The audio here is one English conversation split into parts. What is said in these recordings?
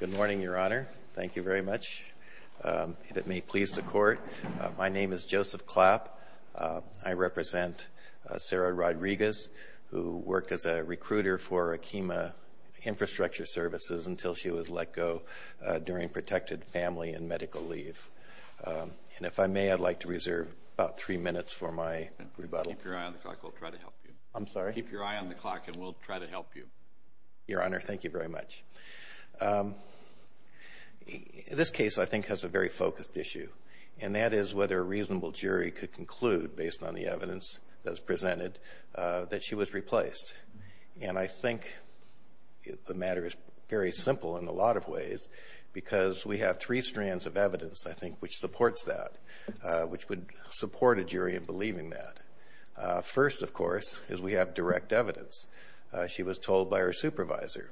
Good morning, Your Honor. Thank you very much. If it may please the Court, my name is Joseph Clapp. I represent Sarah Rodriguez, who worked as a recruiter for Akima Infrastructure Services until she was let go during protected family and medical leave. And if I may, I'd like to reserve about 3 minutes for my rebuttal. Keep your eye on the clock, and we'll try to help you. Your Honor, thank you very much. This case, I think, has a very focused issue, and that is whether a reasonable jury could conclude, based on the evidence that was presented, that she was replaced. And I think the matter is very simple in a lot of ways, because we have three strands of evidence, I think, which supports that, which would support a jury in believing that. First, of course, is we have direct evidence. She was told by her supervisor,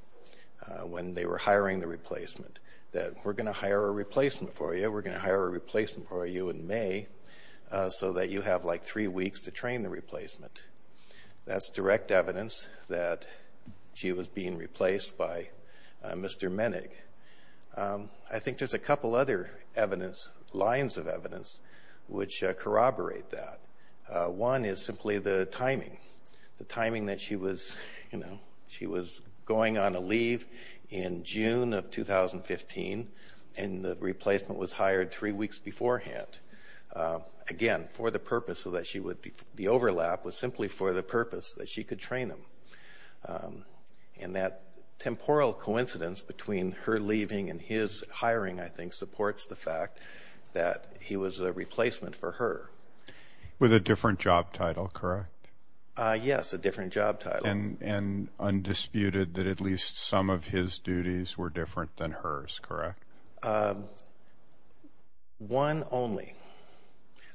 when they were hiring the replacement, that we're going to hire a replacement for you, we're going to hire a replacement for you in May, so that you have like three weeks to train the replacement. That's direct evidence that she was being replaced by Mr. Menig. I think there's a couple other evidence, lines of evidence, which corroborate that. One is simply the timing. The timing that she was, you know, she was going on a leave in June of 2015, and the replacement was hired three weeks beforehand. Again, for the purpose so that she would, the overlap was simply for the purpose that she could train him. And that temporal coincidence between her leaving and his hiring, I think, supports the fact that he was a replacement for her. With a different job title, correct? Yes, a different job title. And undisputed that at least some of his duties were different than hers, correct? One only.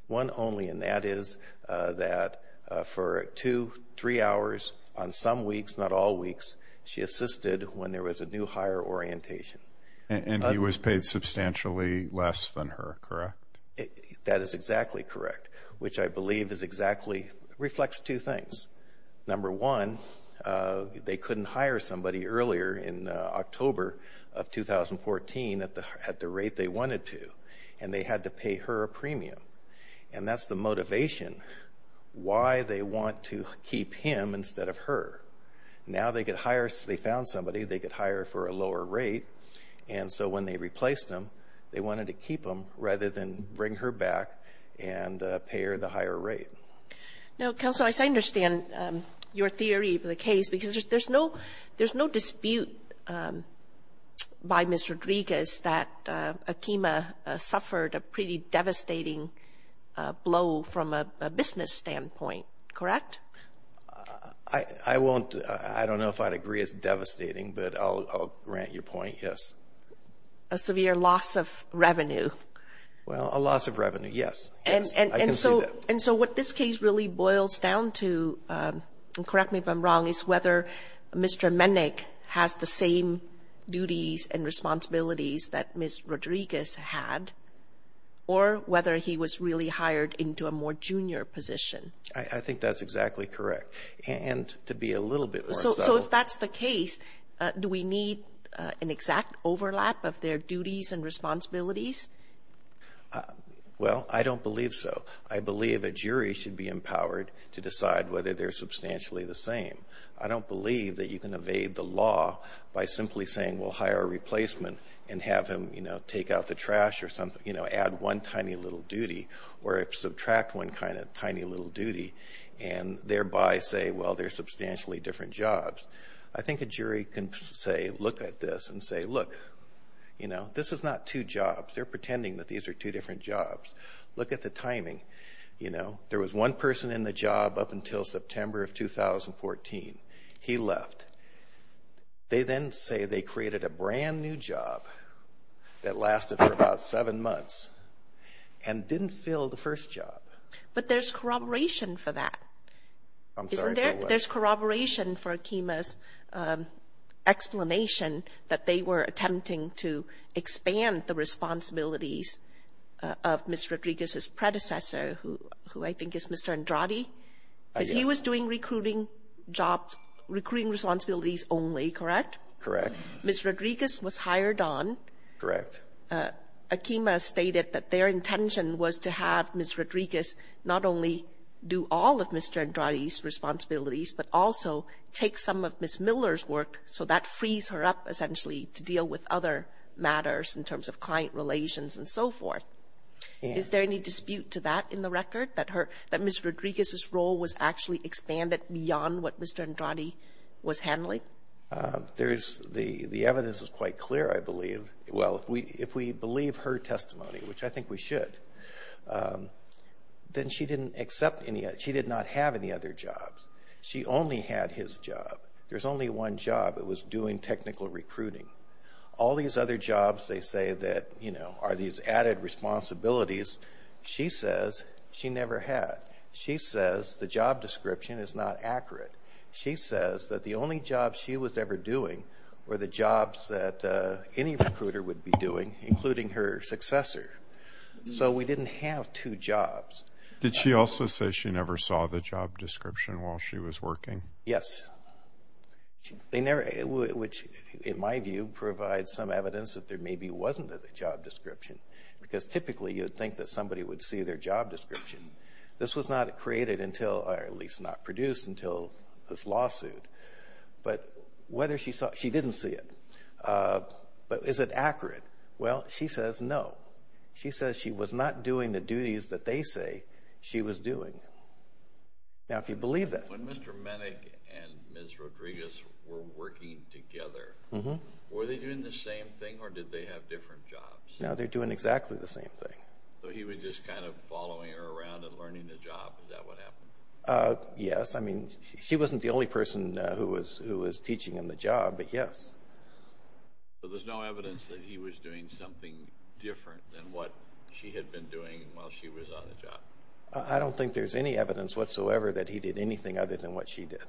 One only, and that is that for two, three hours on some weeks, not all weeks, she assisted when there was a new hire orientation. And he was paid substantially less than her, correct? That is exactly correct, which I believe is exactly, reflects two things. Number one, they couldn't hire somebody earlier in October of 2014 at the rate they wanted to, and they had to pay her a premium. And that's the motivation, why they want to keep him instead of her. Now they could hire, they found somebody, they could hire for a lower rate, and so when they replaced him, they wanted to keep him rather than bring her back and pay her the higher rate. Now, counsel, I understand your theory for the case, because there's no dispute by Ms. Rodriguez that Akima suffered a pretty devastating blow from a business standpoint, correct? I won't, I don't know if I'd agree it's devastating, but I'll grant your point, yes. A severe loss of revenue. Well, a loss of revenue, yes. I can see that. And so what this case really boils down to, and correct me if I'm wrong, is whether Mr. Mennick has the same duties and responsibilities that Ms. Rodriguez had, or whether he was really hired into a more junior position. I think that's exactly correct. And to be a little bit more subtle. So if that's the case, do we need an exact overlap of their duties and responsibilities? Well, I don't believe so. I believe a jury should be empowered to decide whether they're substantially the same. I don't believe that you can evade the law by simply saying, well, hire a replacement and have him take out the trash or add one tiny little duty, or subtract one kind of tiny little duty, and thereby say, well, they're substantially different jobs. I think a jury can say, look at this, and say, look, you know, this is not two jobs. They're pretending that these are two different jobs. Look at the timing. You know, there was one person in the job up until September of 2014. He left. They then say they created a brand new job that lasted for about seven months and didn't fill the first job. But there's corroboration for that. I'm sorry for what? There's corroboration for Akima's explanation that they were attempting to expand the responsibilities of Ms. Rodriguez's predecessor, who I think is Mr. Andrade, because he was doing recruiting jobs, recruiting responsibilities only, correct? Correct. Ms. Rodriguez was hired on. Correct. Akima stated that their intention was to have Ms. Rodriguez not only do all of Mr. Andrade's duties, but also take some of Ms. Miller's work, so that frees her up essentially to deal with other matters in terms of client relations and so forth. And? Is there any dispute to that in the record, that her — that Ms. Rodriguez's role was actually expanded beyond what Mr. Andrade was handling? There's — the evidence is quite clear, I believe. Well, if we believe her testimony, which I think we should, then she didn't accept any — she did not have any other jobs. She only had his job. There's only one job. It was doing technical recruiting. All these other jobs they say that, you know, are these added responsibilities, she says she never had. She says the job description is not accurate. She says that the only jobs she was ever doing were the jobs that any recruiter would be doing, including her successor. So we didn't have two jobs. Did she also say she never saw the job description while she was working? Yes. They never — which, in my view, provides some evidence that there maybe wasn't a job description, because typically you would think that somebody would see their job description. This was not created until — or at least not produced until this lawsuit. But whether she saw — she didn't see it. But is it accurate? Well, she says no. She says she was not doing the duties that they say she was doing. Now, if you believe that — When Mr. Menick and Ms. Rodriguez were working together, were they doing the same thing, or did they have different jobs? No, they were doing exactly the same thing. So he was just kind of following her around and learning the job. Is that what happened? Yes. I mean, she wasn't the only person who was teaching him the job, but yes. So there's no evidence that he was doing something different than what she had been doing while she was on the job? I don't think there's any evidence whatsoever that he did anything other than what she did.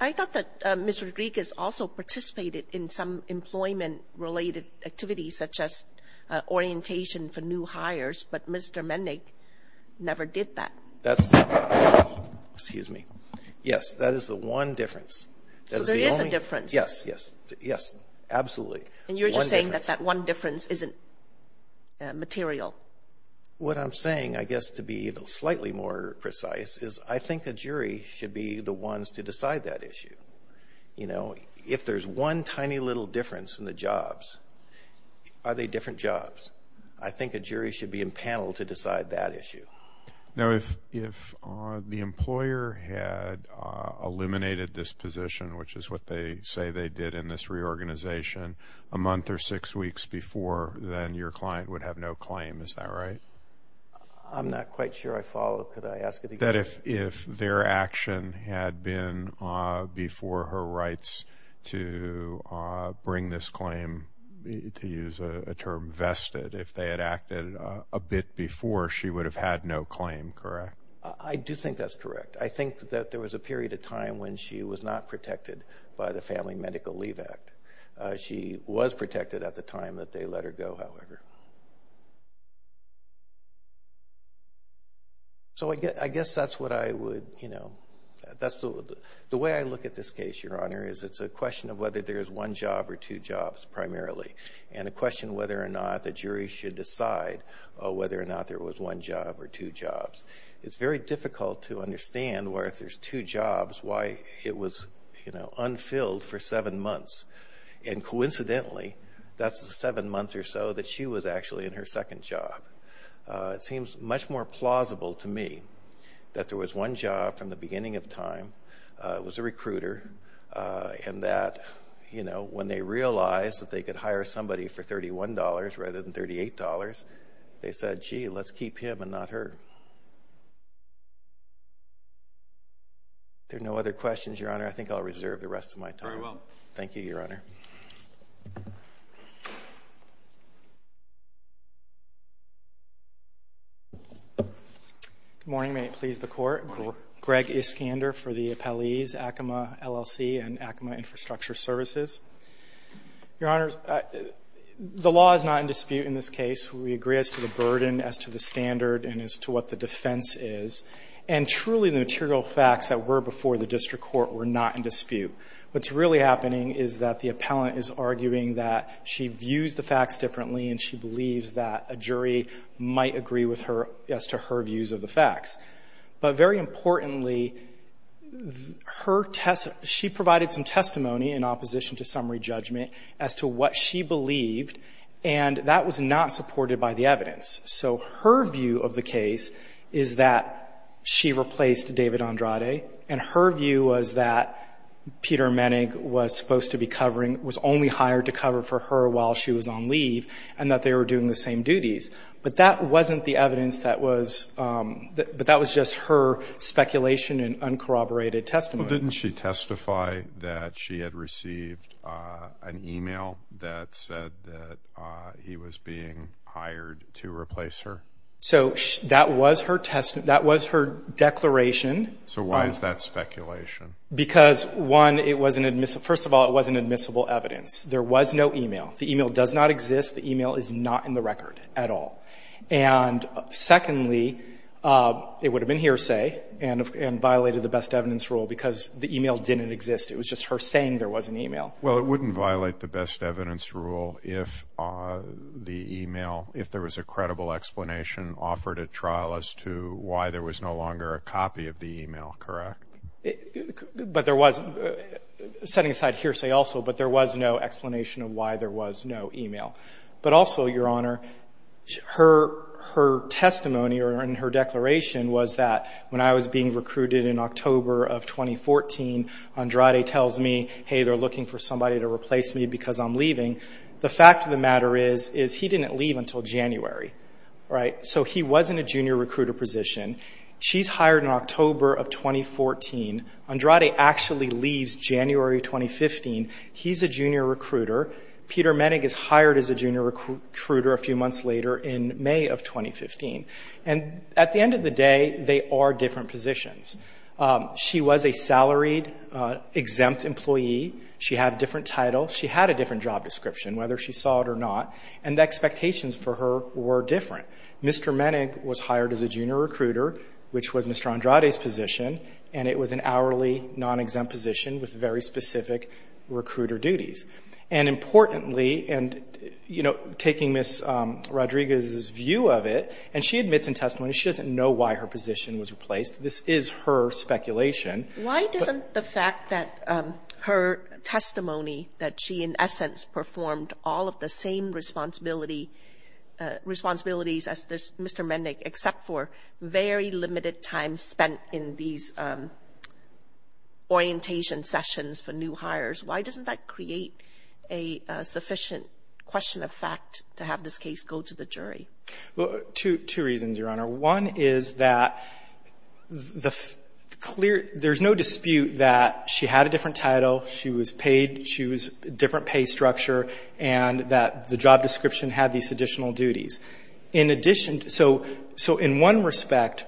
I thought that Ms. Rodriguez also participated in some employment-related activities, such as orientation for new hires, but Mr. Menick never did that. That's not — excuse me. Yes, that is the one difference. That is the only — So there is a difference. Yes. Yes. Yes. Absolutely. One difference. And you're just saying that that one difference isn't material? What I'm saying, I guess, to be slightly more precise, is I think a jury should be the ones to decide that issue. You know, if there's one tiny little difference in the jobs, are they different jobs? I think a jury should be impaneled to decide that issue. Now, if the employer had eliminated this position, which is what they say they did in this reorganization a month or six weeks before, then your client would have no claim. Is that right? I'm not quite sure I follow. Could I ask it again? If their action had been before her rights to bring this claim, to use a term, vested, if they had acted a bit before, she would have had no claim, correct? I do think that's correct. I think that there was a period of time when she was not protected by the Family Medical Leave Act. She was protected at the time that they let her go, however. So, I guess that's what I would, you know, that's the way I look at this case, Your Honor, is it's a question of whether there's one job or two jobs, primarily, and a question whether or not the jury should decide whether or not there was one job or two jobs. It's very difficult to understand where if there's two jobs, why it was, you know, unfilled for seven months, and coincidentally, that's the seven months or so that she was actually in her second job. It seems much more plausible to me that there was one job from the beginning of time, was a recruiter, and that, you know, when they realized that they could hire somebody for $31 rather than $38, they said, gee, let's keep him and not her. There are no other questions, Your Honor. I think I'll reserve the rest of my time. Very well. Thank you, Your Honor. Good morning. May it please the Court? Good morning. Greg Iskander for the appellees, Acoma LLC and Acoma Infrastructure Services. Your Honor, the law is not in dispute in this case. We agree as to the burden, as to the defense is, and truly the material facts that were before the district court were not in dispute. What's really happening is that the appellant is arguing that she views the facts differently and she believes that a jury might agree with her as to her views of the facts. But very importantly, she provided some testimony in opposition to summary judgment as to what she believed, and that was not supported by the evidence. So her view of the case is that she replaced David Andrade, and her view was that Peter Menig was supposed to be covering, was only hired to cover for her while she was on leave, and that they were doing the same duties. But that wasn't the evidence that was, but that was just her speculation and uncorroborated testimony. Didn't she testify that she had received an email that said that he was being hired to replace her? So that was her test, that was her declaration. So why is that speculation? Because one, it wasn't admissible. First of all, it wasn't admissible evidence. There was no email. The email does not exist. The email is not in the record at all. And secondly, it would have been because the email didn't exist. It was just her saying there was an email. Well, it wouldn't violate the best evidence rule if the email, if there was a credible explanation offered at trial as to why there was no longer a copy of the email, correct? But there was, setting aside hearsay also, but there was no explanation of why there was no email. But also, Your Honor, her testimony or her declaration was that when I was being recruited in October of 2014, Andrade tells me, hey, they're looking for somebody to replace me because I'm leaving. The fact of the matter is, is he didn't leave until January, right? So he was in a junior recruiter position. She's hired in October of 2014. Andrade actually leaves January 2015. He's a junior recruiter. Peter Menig is hired as a junior recruiter a few months later in May of 2015. And at the end of the day, they are different positions. She was a salaried, exempt employee. She had a different title. She had a different job description, whether she saw it or not. And the expectations for her were different. Mr. Menig was hired as a junior recruiter, which was Mr. Andrade's position. And it was an hourly, non-exempt position with very little business view of it. And she admits in testimony she doesn't know why her position was replaced. This is her speculation. Why doesn't the fact that her testimony, that she in essence performed all of the same responsibility as Mr. Menig, except for very limited time spent in these orientation sessions for new hires, why doesn't that create a sufficient question of fact to have this case go to the jury? Well, two reasons, Your Honor. One is that the clear — there's no dispute that she had a different title, she was paid, she was different pay structure, and that the job description had these additional duties. In addition — so in one respect,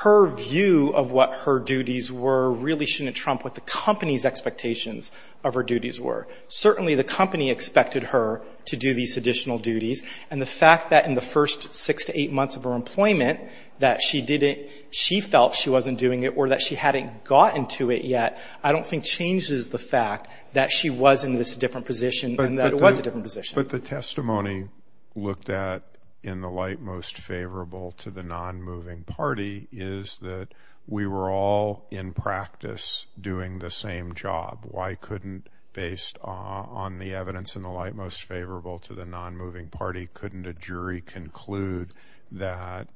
her view of what her duties were really shouldn't trump what the company's expectations of her duties were. Certainly, the company expected her to do these additional duties. And the fact that in the first six to eight months of her employment that she didn't — she felt she wasn't doing it or that she hadn't gotten to it yet, I don't think changes the fact that she was in this different position and that it was a different position. But the testimony looked at in the light most favorable to the non-moving party is that we were all in practice doing the same job. Why couldn't, based on the evidence in the light most favorable to the non-moving party, couldn't a jury conclude that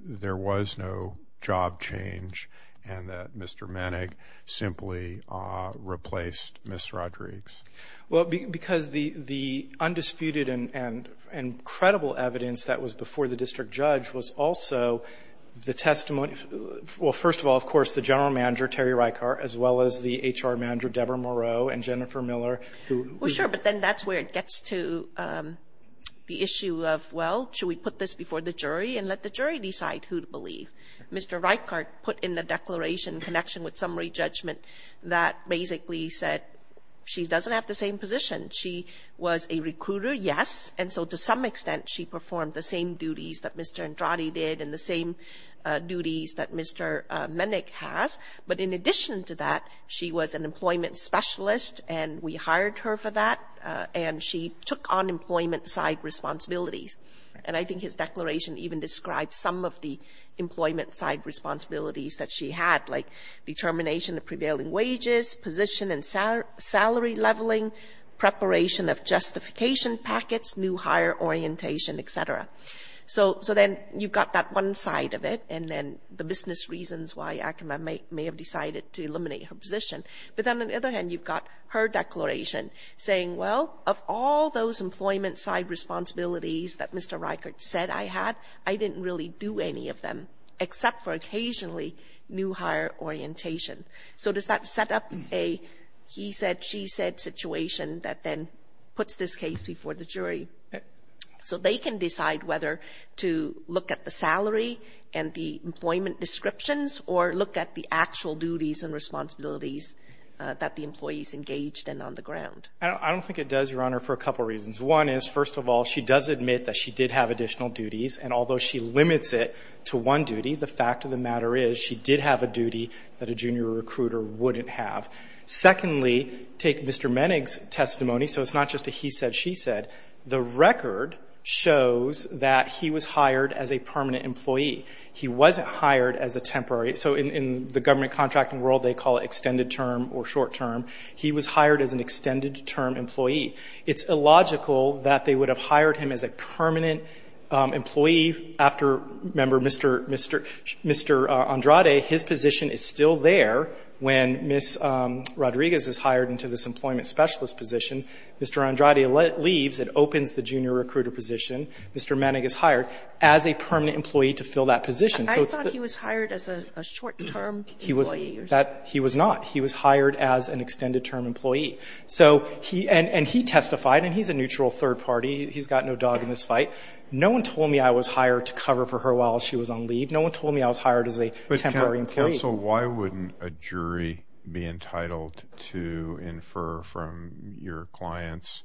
there was no job change and that Mr. Menig simply replaced Ms. Rodrigues? Because the undisputed and credible evidence that was before the district judge was also the testimony — well, first of all, of course, the general manager, Terry Reichart, as well as the H.R. manager, Deborah Moreau, and Jennifer Miller, who — Well, sure, but then that's where it gets to the issue of, well, should we put this before the jury and let the jury decide who to believe? Mr. Reichart put in the declaration in connection with summary judgment that basically said she doesn't have the same position. She was a recruiter, yes, and so to some extent she performed the same duties that Mr. Menig has. But in addition to that, she was an employment specialist and we hired her for that, and she took on employment-side responsibilities. And I think his declaration even describes some of the employment-side responsibilities that she had, like determination of prevailing wages, position and salary leveling, preparation of justification packets, new hire orientation. So you've got that one side of it, and then the business reasons why Akima may have decided to eliminate her position. But then on the other hand, you've got her declaration saying, well, of all those employment-side responsibilities that Mr. Reichart said I had, I didn't really do any of them except for occasionally new hire orientation. So does that set up a he-said, she-said situation that then puts this case before the jury? So they can decide whether to look at the salary and the employment descriptions or look at the actual duties and responsibilities that the employees engaged in on the ground. I don't think it does, Your Honor, for a couple of reasons. One is, first of all, she does admit that she did have additional duties, and although she limits it to one duty, the fact of the matter is she did have a duty that a junior recruiter wouldn't have. Secondly, take Mr. Menig's testimony, so it's not just a he-said, she-said The record shows that he was hired as a permanent employee. He wasn't hired as a temporary So in the government contracting world, they call it extended term or short term. He was hired as an extended term employee. It's illogical that they would have hired him as a permanent employee after, remember, Mr. Andrade, his position is still there when Ms. Rodriguez is hired into this employment specialist position. Mr. Andrade leaves, it opens the junior recruiter position, Mr. Menig is hired as a permanent employee to fill that position. I thought he was hired as a short term employee or something. He was not. He was hired as an extended term employee. And he testified, and he's a neutral third party, he's got no dog in this fight. No one told me I was hired to cover for her while she was on leave. No one told me I was hired as a temporary employee. Counsel, why wouldn't a jury be entitled to infer from your client's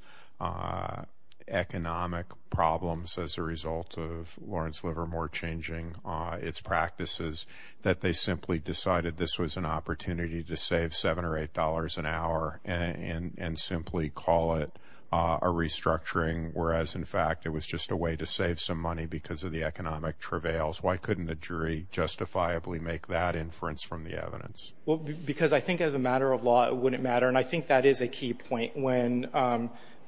economic problems as a result of Lawrence Livermore changing its practices that they simply decided this was an opportunity to save $7 or $8 an hour and simply call it a restructuring, whereas in fact it was just a way to save some money because of the economic travails? Why couldn't the jury justifiably make that inference from the evidence? Well, because I think as a matter of law it wouldn't matter. And I think that is a key point when,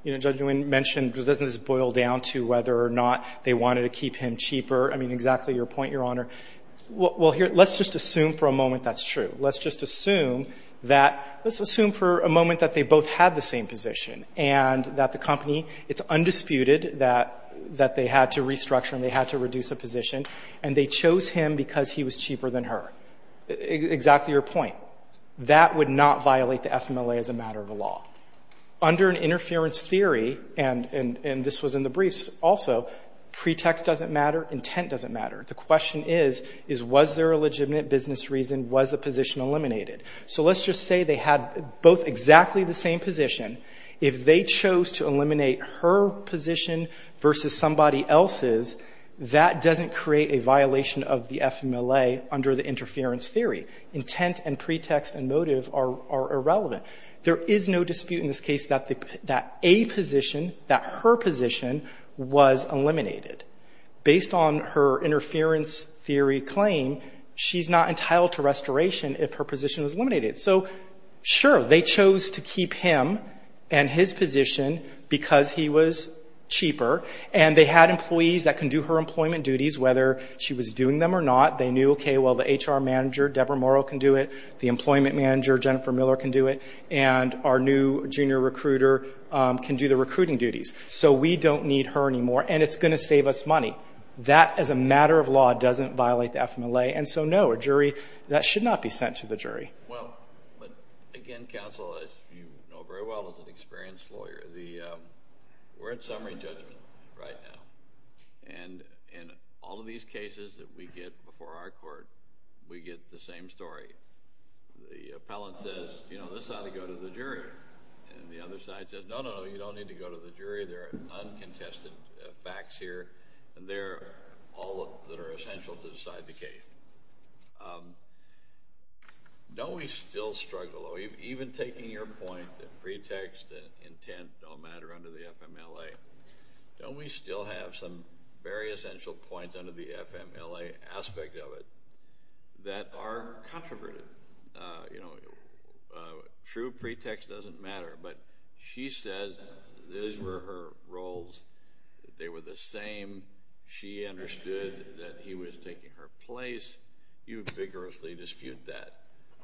you know, Judge Nguyen mentioned, doesn't this boil down to whether or not they wanted to keep him cheaper? I mean, exactly your point, Your Honor. Let's just assume for a moment that's true. Let's just assume that, let's assume for a moment that they both had the same position and that the company, it's undisputed that they had to restructure and they had to reduce a position, and they chose him because he was cheaper than her. Exactly your point. That would not violate the FMLA as a matter of law. Under an interference theory, and this was in the briefs also, pretext doesn't matter, intent doesn't matter. The question is, was there a legitimate business reason? Was the position eliminated? So let's just say they had both exactly the same position. If they chose to eliminate her position versus somebody else's, that doesn't create a violation of the FMLA under the interference theory. Intent and pretext and motive are irrelevant. There is no dispute in this case that a position, that her position was eliminated. Based on her interference theory claim, she's not entitled to restoration if her position was eliminated. So sure, they chose to keep him and his position because he was cheaper, and they had employees that can do her employment duties, whether she was doing them or not. They knew, okay, well, the HR manager, Deborah Morrow, can do it. The employment manager, Jennifer Miller, can do it. And our new junior recruiter can do the recruiting duties. So we don't need her anymore, and it's going to save us money. That, as a matter of law, doesn't violate the FMLA. And so, no, a jury, that should not be sent to the jury. Well, but again, counsel, as you know very well as an experienced lawyer, we're in summary judgment right now. And in all of these cases that we get before our court, we get the same story. The appellant says, you know, this ought to go to the jury. And the other side says, no, no, no, you don't need to go to the jury. There are uncontested facts here, and they're all that are essential to decide the case. Don't we still struggle, even taking your point that pretext and intent don't matter under the FMLA? Don't we still have some very essential points under the FMLA aspect of it that are controversial? You know, true pretext doesn't matter, but she says that these were her roles. They were the same. She understood that he was taking her place. You vigorously dispute that.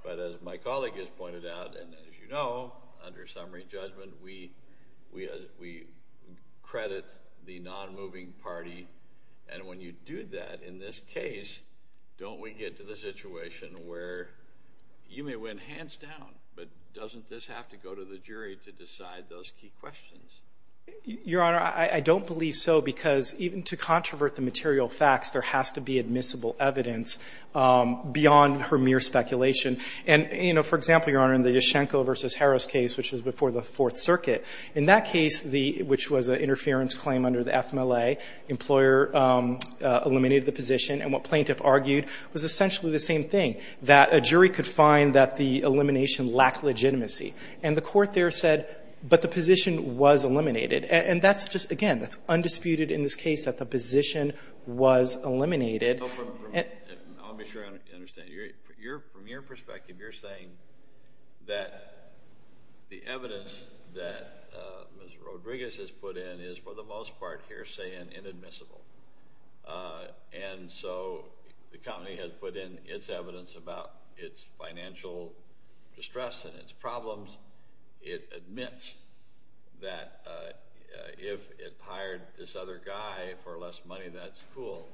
But as my colleague has pointed out, and as you know, under summary judgment, we credit the nonmoving party. And when you do that in this case, don't we get to the situation where you may win hands down, but doesn't this have to go to the jury to decide the case? Your Honor, I don't believe so, because even to controvert the material facts, there has to be admissible evidence beyond her mere speculation. And, you know, for example, Your Honor, in the Yashchenko v. Harris case, which was before the Fourth Circuit, in that case, which was an interference claim under the FMLA, employer eliminated the position, and what plaintiff argued was essentially the same thing, that a jury could find that the elimination lacked legitimacy. And the court there said, but the position was eliminated. And that's just, again, that's undisputed in this case, that the position was eliminated. I'll be sure I understand. From your perspective, you're saying that the evidence that Ms. Rodriguez has put in is, for the most part here, saying inadmissible. And so the company has put in its evidence about its financial distress and its problems. It admits that if it hired this other guy for less money, that's cool.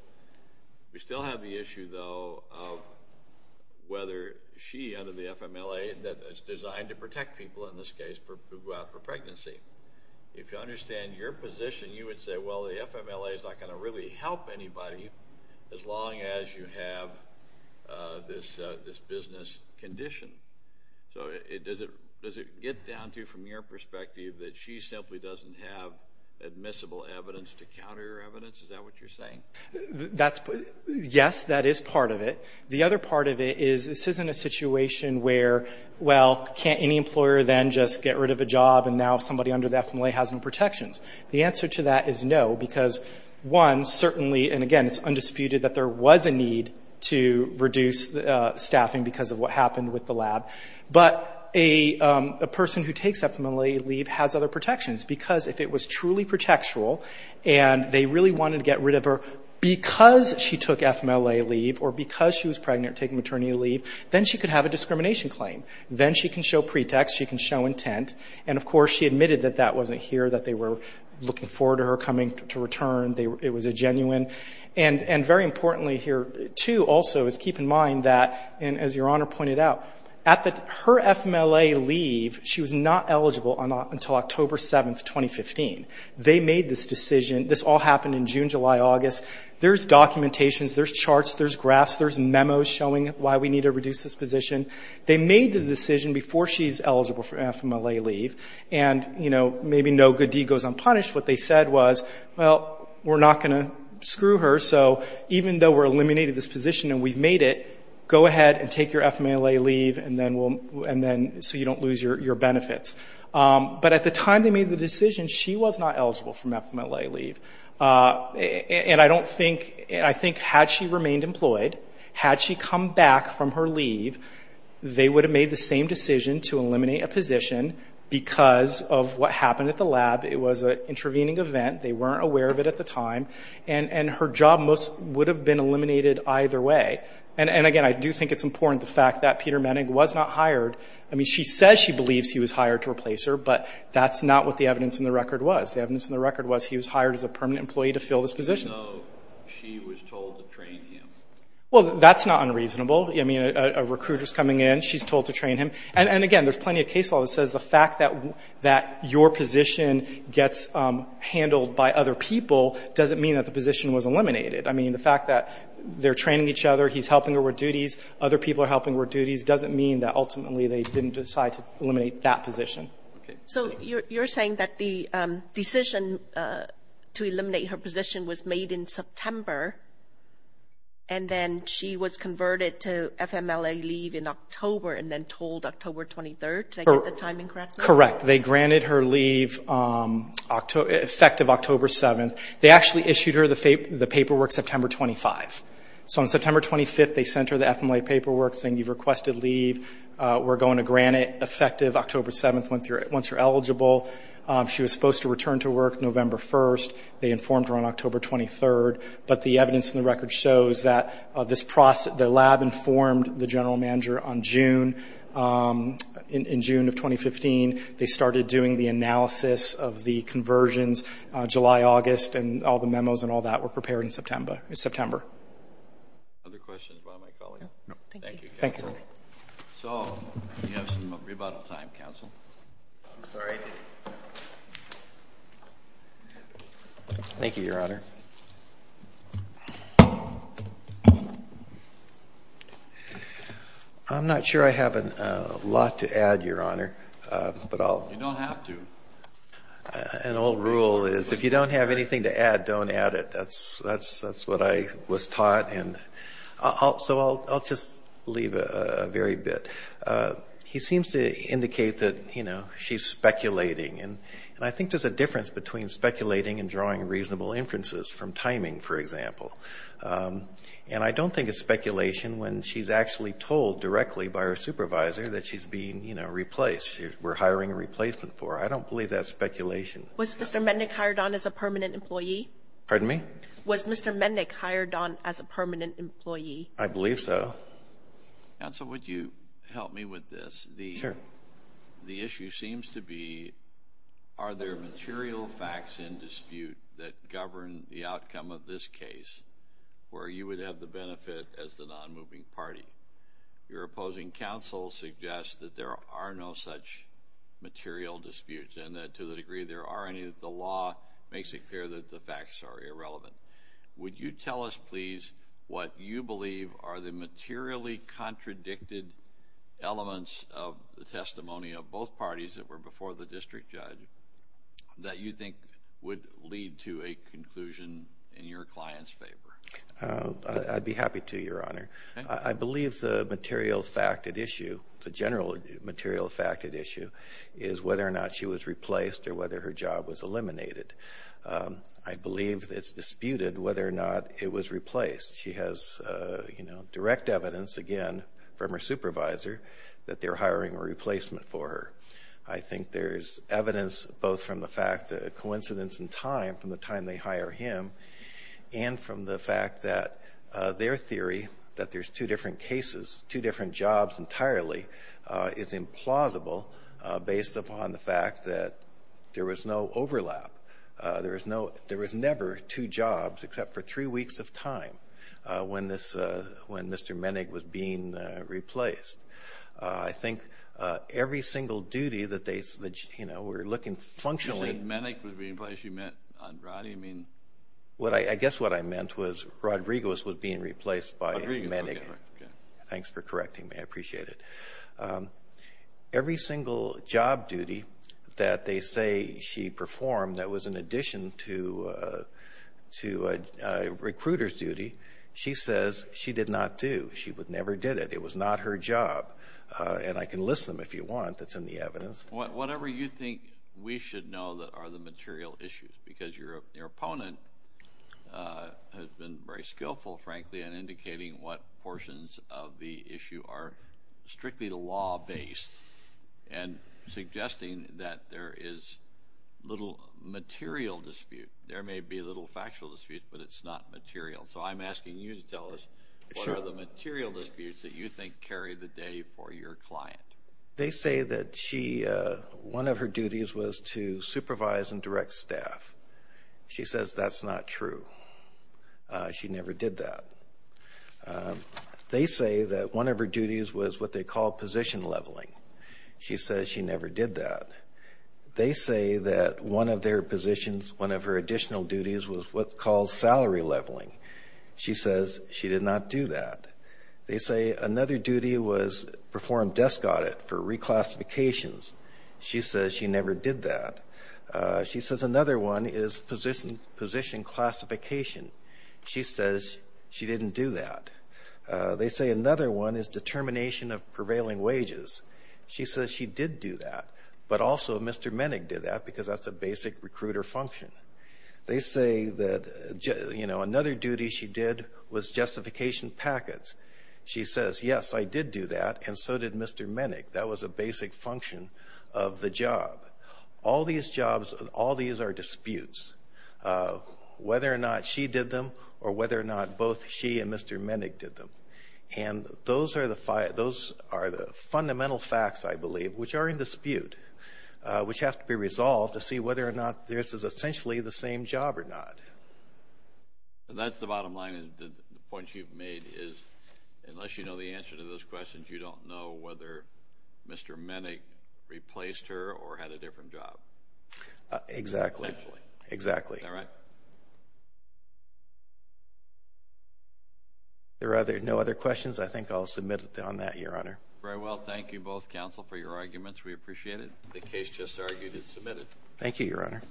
We still have the issue, though, of whether she, under the FMLA, that it's designed to protect people, in this case, who go out for pregnancy. If you understand your position, you would say, well, the FMLA is not going to really help anybody as long as you have this business condition. So does it get down to, from your perspective, that she simply doesn't have admissible evidence to counter evidence? Is that what you're saying? Yes, that is part of it. The other part of it is this isn't a situation where, well, can't any employer then just get rid of a job and now somebody under the FMLA has no protections. The answer to that is no, because, one, certainly, and again, it's undisputed that there was a need to reduce staffing because of what happened with the lab. But a person who takes FMLA leave has other protections, because if it was truly protectural and they really wanted to get rid of her because she took FMLA leave or because she was pregnant, taking maternity leave, then she could have a discrimination claim. Then she can show pretext, she can show intent. And, of course, she admitted that that wasn't here, that they were looking forward to her coming to return, it was a genuine. And very importantly here, too, also, is keep in mind that, and as Your Honor pointed out, at her FMLA leave, she was not eligible until October 7, 2015. They made this decision. This all happened in June, July, August. There's documentations, there's charts, there's graphs, there's memos showing why we need to reduce this position. They made the decision before she's eligible for FMLA leave. And, you know, maybe no good deed goes unpunished. What they said was, well, we're not going to screw her, so even though we're eliminating this position and we've made it, go ahead and take your FMLA leave and then we'll, and then, so you don't lose your benefits. But at the time they made the decision, she was not eligible for FMLA leave. And I don't think, I think had she remained employed, had she come back from her leave, they would have made the same decision to eliminate a position because of what happened at the lab. It was an intervening event. They weren't aware of it at the time. And her job most, would have been eliminated either way. And again, I do think it's important, the fact that Peter Menig was not hired. I mean, she says she believes he was hired to replace her, but that's not what the evidence in the record was. The evidence in the record was he was hired as a permanent employee to fill this position. So she was told to train him? Well, that's not unreasonable. I mean, a recruiter's coming in, she's told to train him. And again, there's plenty of case law that says the fact that your position gets handled by other people doesn't mean that the position was eliminated. I mean, the fact that they're training each other, he's helping her with duties, other people are helping her with duties, doesn't mean that ultimately they didn't decide to eliminate that position. So you're saying that the decision to eliminate her position was made in September, and then she was converted to FMLA leave in October, and then told October 23rd to get the timing correct? Correct. They granted her leave effective October 7th. They actually issued her the paperwork September 25th. So on September 25th, they sent her the FMLA paperwork saying you've requested leave, we're going to grant it effective October 7th once you're eligible. She was supposed to return to work November 1st. They informed her on October 23rd. But the evidence in the record shows that the lab informed the general manager on June, in June of 2015, they started doing the analysis of the conversions July, August, and all the memos and all that were prepared in September. Other questions by my colleague? No, thank you. Thank you. So, you have some rebuttal time, counsel. I'm sorry. Thank you, Your Honor. I'm not sure I have a lot to add, Your Honor, but I'll You don't have to. An old rule is if you don't have anything to add, don't add it. That's what I was taught. So I'll just leave a very bit. He seems to indicate that she's speculating. And I think there's a difference between speculating and drawing reasonable inferences from timing, for example. And I don't think it's speculation when she's actually told directly by her supervisor that she's being replaced, we're hiring a replacement for her. I don't believe that's speculation. Was Mr. Mednick hired on as a permanent employee? Pardon me? Was Mr. Mednick hired on as a permanent employee? I believe so. Counsel, would you help me with this? Sure. The issue seems to be, are there material facts in dispute that govern the outcome of this case where you would have the benefit as the non-moving party? Your opposing counsel suggests that there are no such material disputes and that to the degree there are any, the law makes it clear that the facts are irrelevant. Would you tell us, please, what you believe are the materially contradicted elements of the testimony of both parties that were before the district judge that you think would lead to a conclusion in your client's favor? I'd be happy to, Your Honor. I believe the material fact at issue, the general material fact at issue, is whether or not she was replaced or whether her job was eliminated. I believe it's disputed whether or not it was replaced. She has direct evidence, again, from her supervisor, that they're hiring a replacement for her. I think there's evidence both from the fact that a coincidence in time, from the time they hire him, and from the fact that their theory that there's two different cases, two different jobs entirely, is implausible based upon the fact that there was no overlap. There was never two jobs except for three weeks of time when Mr. Menig was being replaced. I think every single duty that they were looking functionally... You said Menig was being replaced. You meant Andrade? I guess what I meant was Rodriguez was being replaced by Menig. Thanks for correcting me. I appreciate it. Every single job duty that they say she performed that was in addition to a recruiter's duty, she says she did not do. She never did it. It was not her job, and I can list them if you want that's in the evidence. Whatever you think we should know that are the material issues, because your opponent has been very skillful, frankly, in indicating what portions of the issue are strictly law-based, and suggesting that there is little material dispute. There may be a little factual dispute, but it's not material. So I'm asking you to tell us what are the material disputes that you think carry the day for your client. They say that one of her duties was to supervise and direct staff. She says that's not true. She never did that. They say that one of her duties was what they call position leveling. She says she never did that. They say that one of their positions, one of her additional duties, was what's called salary leveling. She says she did not do that. They say another duty was perform desk audit for reclassifications. She says she never did that. She says another one is position classification. She says she didn't do that. They say another one is determination of prevailing wages. She says she did do that, but also Mr. Menig did that, because that's a basic recruiter function. They say that another duty she did was justification packets. She says, yes, I did do that, and so did Mr. Menig. That was a basic function of the job. All these jobs, all these are disputes, whether or not she did them or whether or not both she and Mr. Menig did them. And those are the fundamental facts, I believe, which are in dispute, which have to be resolved to see whether or not this is essentially the same job or not. That's the bottom line. The point you've made is unless you know the answer to those questions, you don't know whether Mr. Menig replaced her or had a different job. Exactly. Essentially. Exactly. Is that right? There are no other questions. I think I'll submit on that, Your Honor. Very well. Thank you both, counsel, for your arguments. We appreciate it. The case just argued is submitted. Thank you, Your Honor.